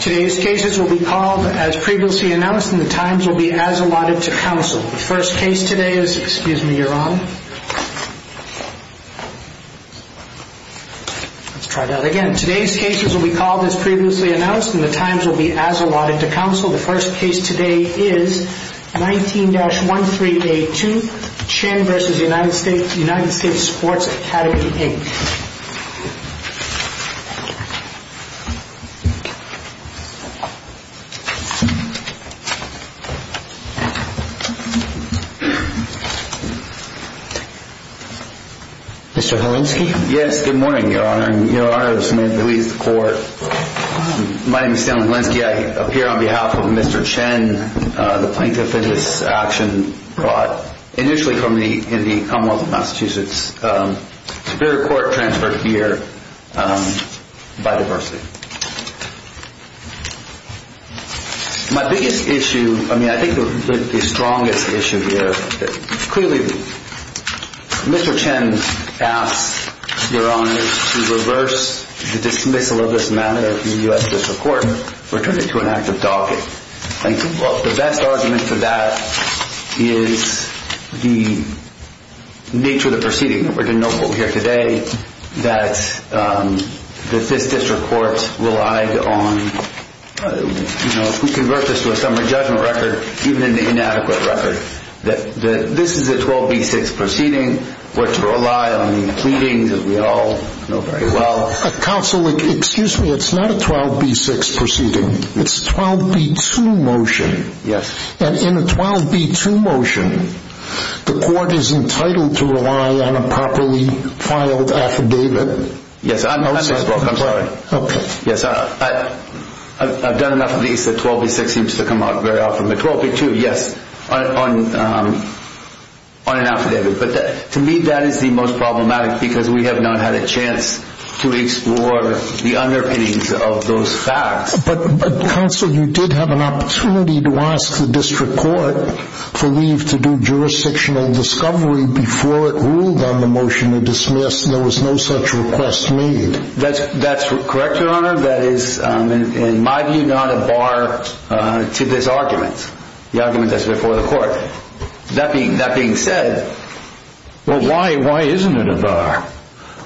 Today's cases will be called as previously announced and the times will be as allotted to counsel. The first case today is... Excuse me, Your Honor. Let's try that again. Today's cases will be called as previously announced and the times will be as allotted to counsel. The first case today is 19-1382, Chin v. United States Sports Academy, Inc. Thank you. Mr. Holinski? Yes, good morning, Your Honor. And Your Honor, this man who leads the court. My name is Stanley Holinski. I appear on behalf of Mr. Chin, the plaintiff in this action brought initially from the Commonwealth of Massachusetts. Superior court transferred here by diversity. My biggest issue, I mean, I think the strongest issue here, clearly Mr. Chin asked Your Honor to reverse the dismissal of this matter in the US judicial court, return it to an active docket. I think the best argument for that is the nature of the proceeding. We're going to know from here today that this district court relied on, you know, if we convert this to a summary judgment record, even in the inadequate record, that this is a 12B6 proceeding, which relied on the pleadings that we all know very well. Counsel, excuse me, it's not a 12B6 proceeding. It's a 12B2 motion. Yes. And in a 12B2 motion, the court is entitled to rely on a properly filed affidavit. Yes, I'm sorry. Okay. Yes, I've done enough of these, the 12B6 seems to come out very often. The 12B2, yes, on an affidavit. But to me, that is the most problematic because we have not had a chance to explore the underpinnings of those facts. But, Counsel, you did have an opportunity to ask the district court for leave to do jurisdictional discovery before it ruled on the motion to dismiss. There was no such request made. That's correct, Your Honor. That is, in my view, not a bar to this argument, the argument that's before the court. That being said... Well, why isn't it a bar?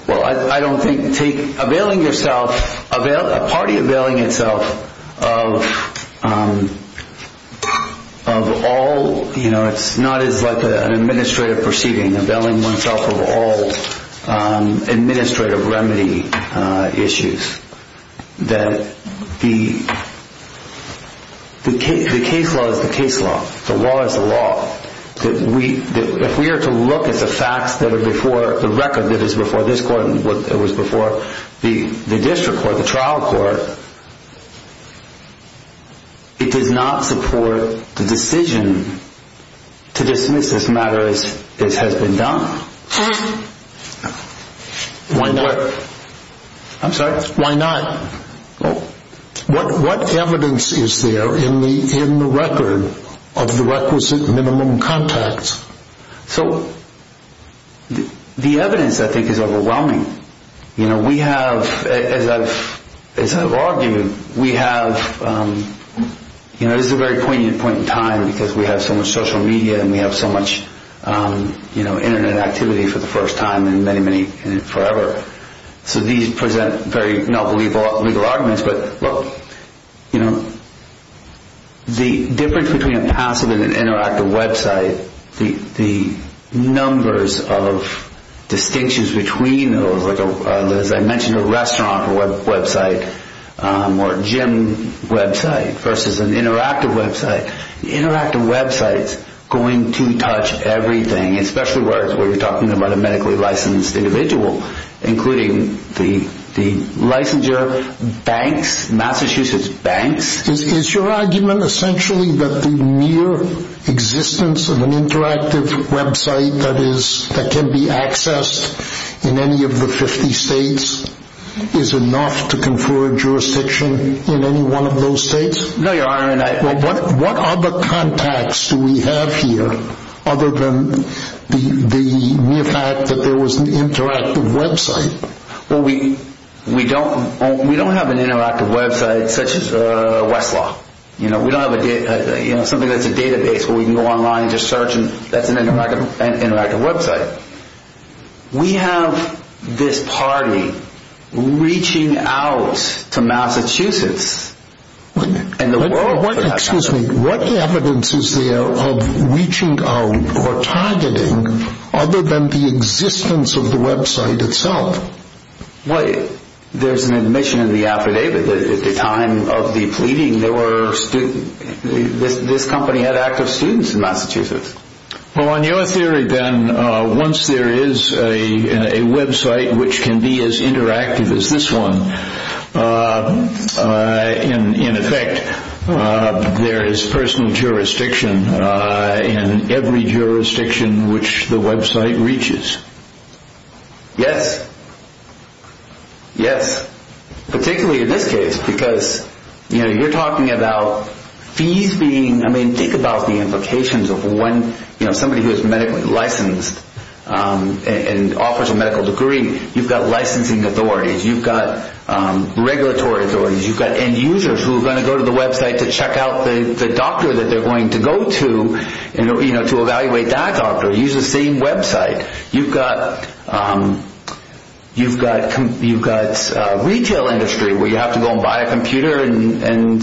Well, I don't think, availing yourself, a party availing itself of all, you know, it's not as like an administrative proceeding, availing oneself of all administrative remedy issues. That the case law is the case law. The law is the law. If we are to look at the facts that are before the record that is before this court and what was before the district court, the trial court, it does not support the decision to dismiss this matter as it has been done. Why not? I'm sorry? Why not? What evidence is there in the record of the requisite minimum contacts? So, the evidence I think is overwhelming. You know, we have, as I've argued, we have, you know, this is a very poignant point in time because we have so much social media and we have so much, you know, internet activity for the first time in many, many, forever. So these present very novel legal arguments, but, you know, the difference between a passive and an interactive website, the numbers of distinctions between those, as I mentioned, a restaurant website or gym website versus an interactive website. Interactive websites going to touch everything, especially where you're talking about a medically licensed individual, including the licensure banks, Massachusetts banks. Is your argument essentially that the mere existence of an interactive website that can be accessed in any of the 50 states is enough to confer a jurisdiction in any one of those states? No, Your Honor. What other contacts do we have here other than the mere fact that there was an interactive website? Well, we don't have an interactive website such as Westlaw. You know, we don't have something that's a database where we can go online and just search and that's an interactive website. We have this party reaching out to Massachusetts. Excuse me. What evidence is there of reaching out or targeting other than the existence of the website itself? Well, there's an admission in the affidavit that at the time of the pleading, this company had active students in Massachusetts. Well, in your theory then, once there is a website which can be as interactive as this one, in effect, there is personal jurisdiction in every jurisdiction which the website reaches. Yes. Yes. Particularly in this case because, you know, you're talking about fees being, I mean, think about the implications of when, you know, somebody who is medically licensed and offers a medical degree, you've got licensing authorities, you've got regulatory authorities, you've got end users who are going to go to the website to check out the doctor that they're going to go to, you know, to evaluate that doctor, use the same website. You've got retail industry where you have to go and buy a computer and,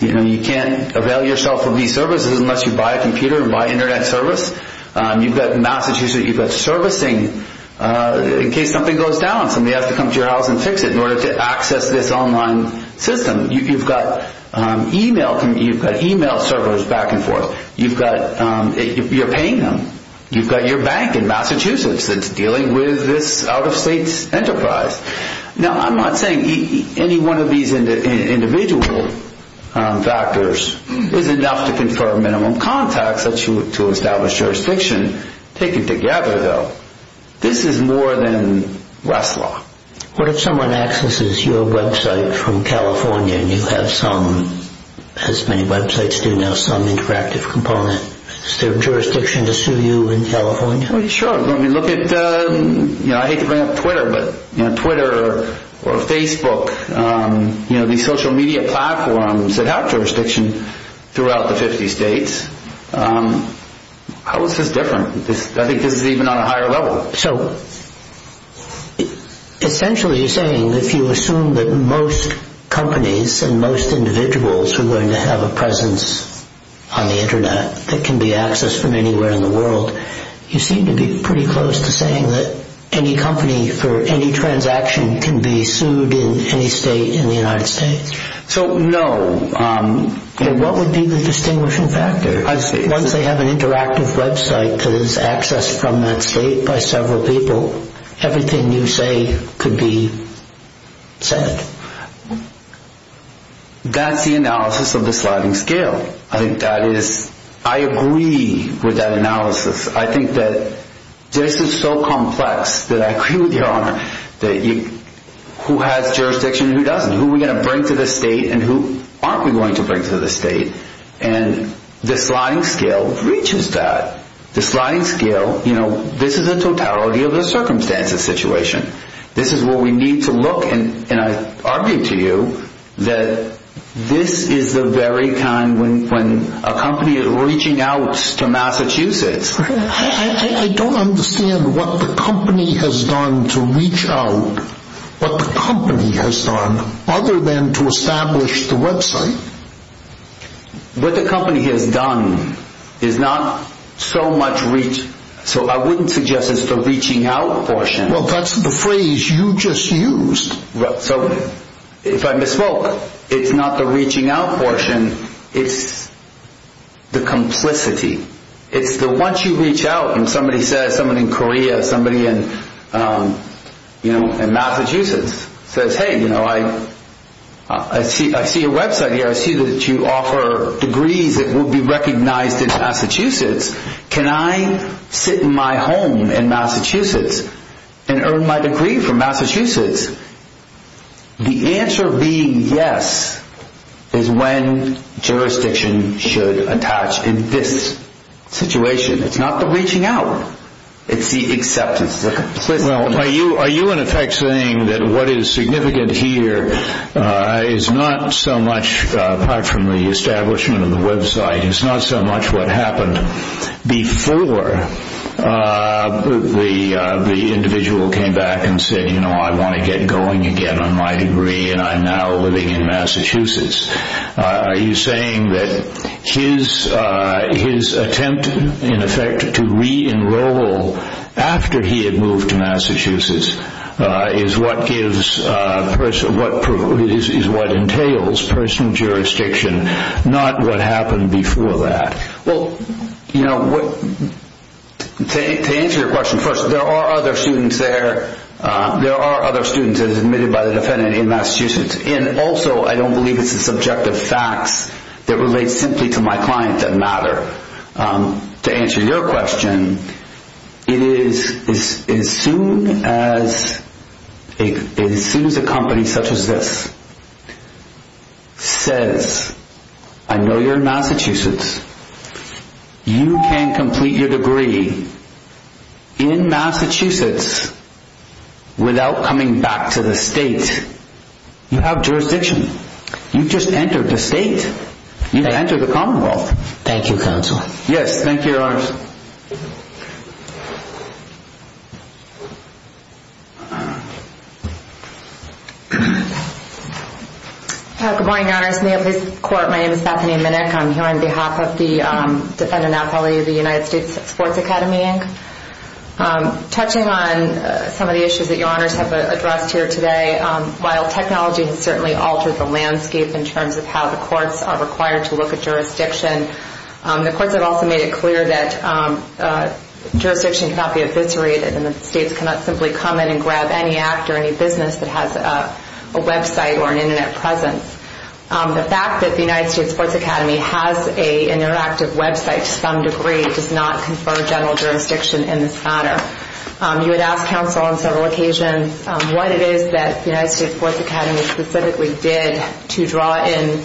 you know, you can't avail yourself of these services unless you buy a computer and buy Internet service. You've got in Massachusetts, you've got servicing in case something goes down, somebody has to come to your house and fix it in order to access this online system. You've got e-mail, you've got e-mail servers back and forth. You've got, you're paying them. You've got your bank in Massachusetts that's dealing with this out-of-state enterprise. Now, I'm not saying any one of these individual factors is enough to confer minimum contacts to establish jurisdiction. Taken together, though, this is more than Westlaw. What if someone accesses your website from California and you have some, as many websites do now, some interactive component? Is there jurisdiction to sue you in California? Sure. I mean, look at, you know, I hate to bring up Twitter, but, you know, Twitter or Facebook, you know, these social media platforms that have jurisdiction throughout the 50 states. How is this different? I think this is even on a higher level. So, essentially you're saying if you assume that most companies and most individuals are going to have a presence on the Internet that can be accessed from anywhere in the world, you seem to be pretty close to saying that any company for any transaction can be sued in any state in the United States? So, no. Then what would be the distinguishing factor? I see. Once they have an interactive website that is accessed from that state by several people, everything you say could be said. That's the analysis of the sliding scale. I think that is, I agree with that analysis. I think that this is so complex that I agree with your honor that who has jurisdiction and who doesn't? Who are we going to bring to the state and who aren't we going to bring to the state? And the sliding scale reaches that. The sliding scale, you know, this is a totality of the circumstances situation. This is where we need to look, and I argue to you that this is the very kind, when a company is reaching out to Massachusetts. I don't understand what the company has done to reach out, what the company has done other than to establish the website. What the company has done is not so much reach, so I wouldn't suggest it's the reaching out portion. Well, that's the phrase you just used. So, if I misspoke, it's not the reaching out portion, it's the complicity. It's the once you reach out and somebody says, somebody in Korea, somebody in Massachusetts, says, hey, you know, I see a website here. I see that you offer degrees that will be recognized in Massachusetts. Can I sit in my home in Massachusetts and earn my degree from Massachusetts? The answer being yes is when jurisdiction should attach in this situation. It's not the reaching out. It's the acceptance. Well, are you in effect saying that what is significant here is not so much, apart from the establishment of the website, is not so much what happened before the individual came back and said, you know, I want to get going again on my degree and I'm now living in Massachusetts. Are you saying that his attempt, in effect, to re-enroll after he had moved to Massachusetts is what entails personal jurisdiction, not what happened before that? Well, you know, to answer your question, first, there are other students there. There are other students admitted by the defendant in Massachusetts. And also, I don't believe it's the subjective facts that relate simply to my client that matter. To answer your question, it is as soon as a company such as this says, I know you're in Massachusetts. You can complete your degree in Massachusetts without coming back to the state. You have jurisdiction. You've just entered the state. You've entered the commonwealth. Thank you, Counsel. Yes, thank you, Your Honors. Good morning, Your Honors. In the Office of the Court, my name is Bethany Minnick. I'm here on behalf of the Defendant Athlete of the United States Sports Academy, Inc. Touching on some of the issues that Your Honors have addressed here today, while technology has certainly altered the landscape in terms of how the courts are required to look at jurisdiction, the courts have also made it clear that jurisdiction cannot be eviscerated and that states cannot simply come in and grab any act or any business that has a website or an Internet presence. The fact that the United States Sports Academy has an interactive website to some degree does not confer general jurisdiction in this matter. You would ask counsel on several occasions what it is that the United States Sports Academy specifically did to draw in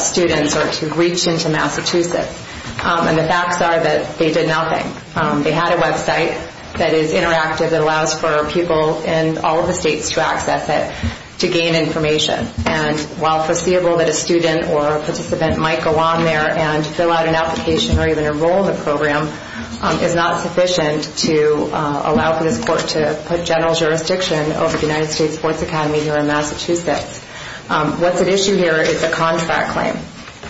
students or to reach into Massachusetts, and the facts are that they did nothing. They had a website that is interactive that allows for people in all of the states to access it to gain information. And while foreseeable that a student or a participant might go on there and fill out an application or even enroll in the program is not sufficient to allow for this court to put general jurisdiction over the United States Sports Academy here in Massachusetts. What's at issue here is the contract claim.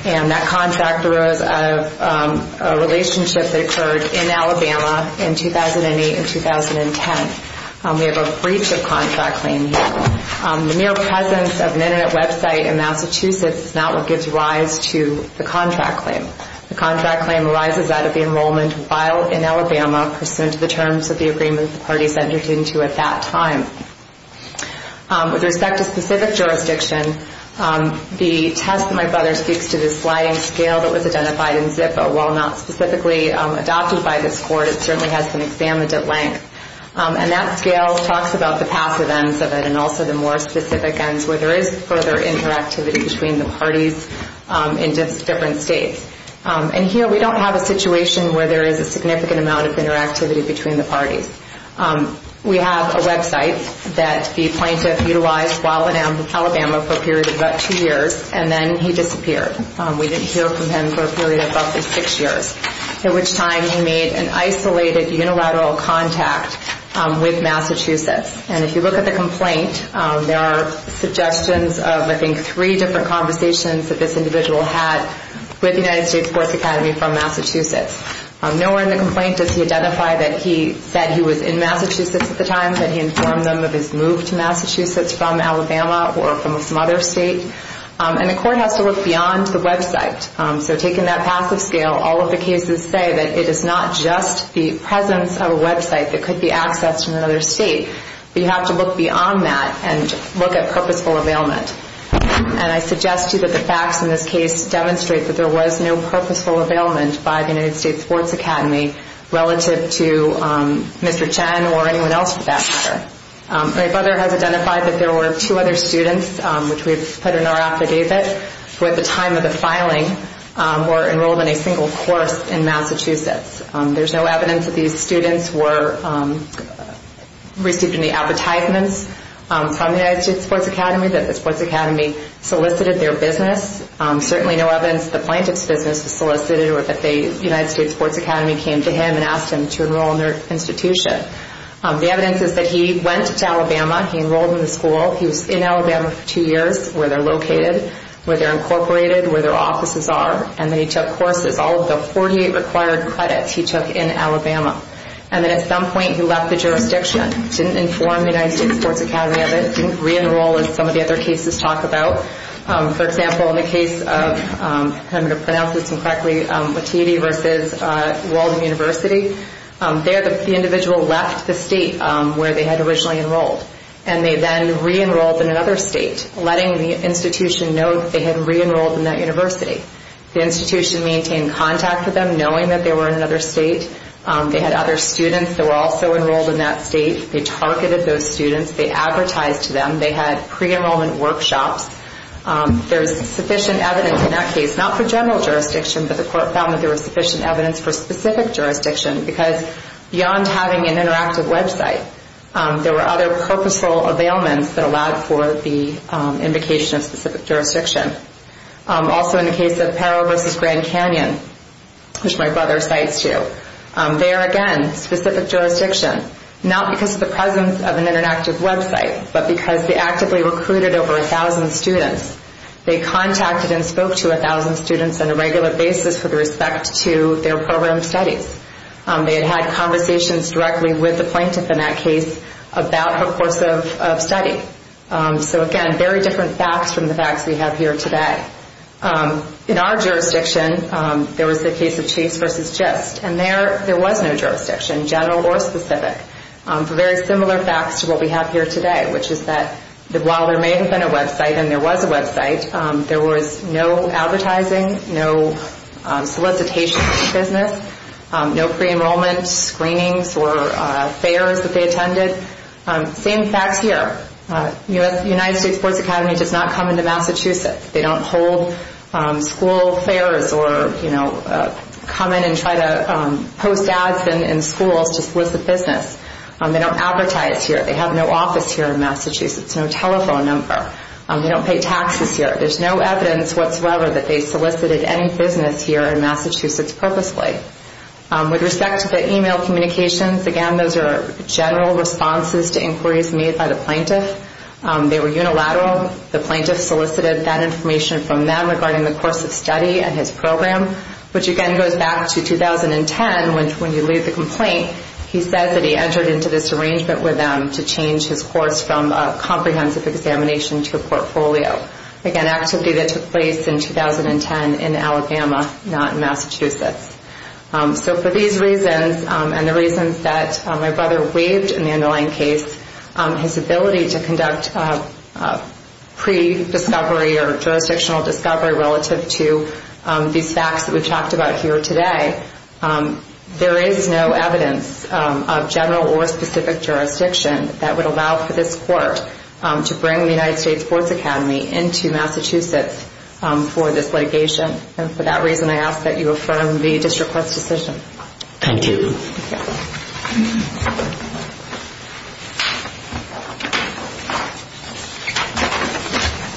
And that contract arose out of a relationship that occurred in Alabama in 2008 and 2010. We have a breach of contract claim here. The mere presence of an Internet website in Massachusetts is not what gives rise to the contract claim. The contract claim arises out of the enrollment file in Alabama pursuant to the terms of the agreement the parties entered into at that time. With respect to specific jurisdiction, the test that my brother speaks to, the sliding scale that was identified in ZIPA, while not specifically adopted by this court, it certainly has been examined at length. And that scale talks about the passive ends of it and also the more specific ends where there is further interactivity between the parties in different states. And here we don't have a situation where there is a significant amount of interactivity between the parties. We have a website that the plaintiff utilized while in Alabama for a period of about two years, and then he disappeared. We didn't hear from him for a period of roughly six years, at which time he made an isolated unilateral contact with Massachusetts. And if you look at the complaint, there are suggestions of, I think, three different conversations that this individual had with the United States Courts Academy from Massachusetts. Nowhere in the complaint does he identify that he said he was in Massachusetts at the time, that he informed them of his move to Massachusetts from Alabama or from some other state. And the court has to look beyond the website. So taking that passive scale, all of the cases say that it is not just the presence of a website that could be accessed in another state. But you have to look beyond that and look at purposeful availment. And I suggest to you that the facts in this case demonstrate that there was no purposeful availment by the United States Sports Academy relative to Mr. Chen or anyone else for that matter. My brother has identified that there were two other students, which we have put in our affidavit, who at the time of the filing were enrolled in a single course in Massachusetts. There's no evidence that these students received any advertisements from the United States Sports Academy that the Sports Academy solicited their business. Certainly no evidence that the plaintiff's business was solicited or that the United States Sports Academy came to him and asked him to enroll in their institution. The evidence is that he went to Alabama. He enrolled in the school. He was in Alabama for two years where they're located, where they're incorporated, where their offices are. And then he took courses. All of the 48 required credits he took in Alabama. And then at some point he left the jurisdiction. Didn't inform the United States Sports Academy of it. Didn't re-enroll as some of the other cases talk about. For example, in the case of, if I'm going to pronounce this incorrectly, Lativi versus Walden University, there the individual left the state where they had originally enrolled. And they then re-enrolled in another state, letting the institution know that they had re-enrolled in that university. The institution maintained contact with them, knowing that they were in another state. They had other students that were also enrolled in that state. They targeted those students. They advertised to them. They had pre-enrollment workshops. There was sufficient evidence in that case, not for general jurisdiction, but the court found that there was sufficient evidence for specific jurisdiction because beyond having an interactive website, there were other purposeful availments that allowed for the invocation of specific jurisdiction. Also in the case of Parro versus Grand Canyon, which my brother cites too, there again, specific jurisdiction, not because of the presence of an interactive website, but because they actively recruited over 1,000 students. They contacted and spoke to 1,000 students on a regular basis with respect to their program studies. They had had conversations directly with the plaintiff in that case about her course of study. So again, very different facts from the facts we have here today. In our jurisdiction, there was the case of Chase versus GIST, and there was no jurisdiction, general or specific, for very similar facts to what we have here today, which is that while there may have been a website and there was a website, there was no advertising, no solicitation for business, no pre-enrollment screenings or fairs that they attended. Same facts here. United States Sports Academy does not come into Massachusetts. They don't hold school fairs or come in and try to post ads in schools to solicit business. They don't advertise here. They have no office here in Massachusetts, no telephone number. They don't pay taxes here. There's no evidence whatsoever that they solicited any business here in Massachusetts purposely. With respect to the e-mail communications, again, those are general responses to inquiries made by the plaintiff. They were unilateral. The plaintiff solicited that information from them regarding the course of study and his program, which again goes back to 2010 when you leave the complaint. He says that he entered into this arrangement with them to change his course from a comprehensive examination to a portfolio, again, an activity that took place in 2010 in Alabama, not in Massachusetts. So for these reasons and the reasons that my brother waived in the underlying case, his ability to conduct pre-discovery or jurisdictional discovery relative to these facts that we've talked about here today, there is no evidence of general or specific jurisdiction that would allow for this court to bring the United States Sports Academy into Massachusetts for this litigation. And for that reason, I ask that you affirm the district court's decision. Thank you.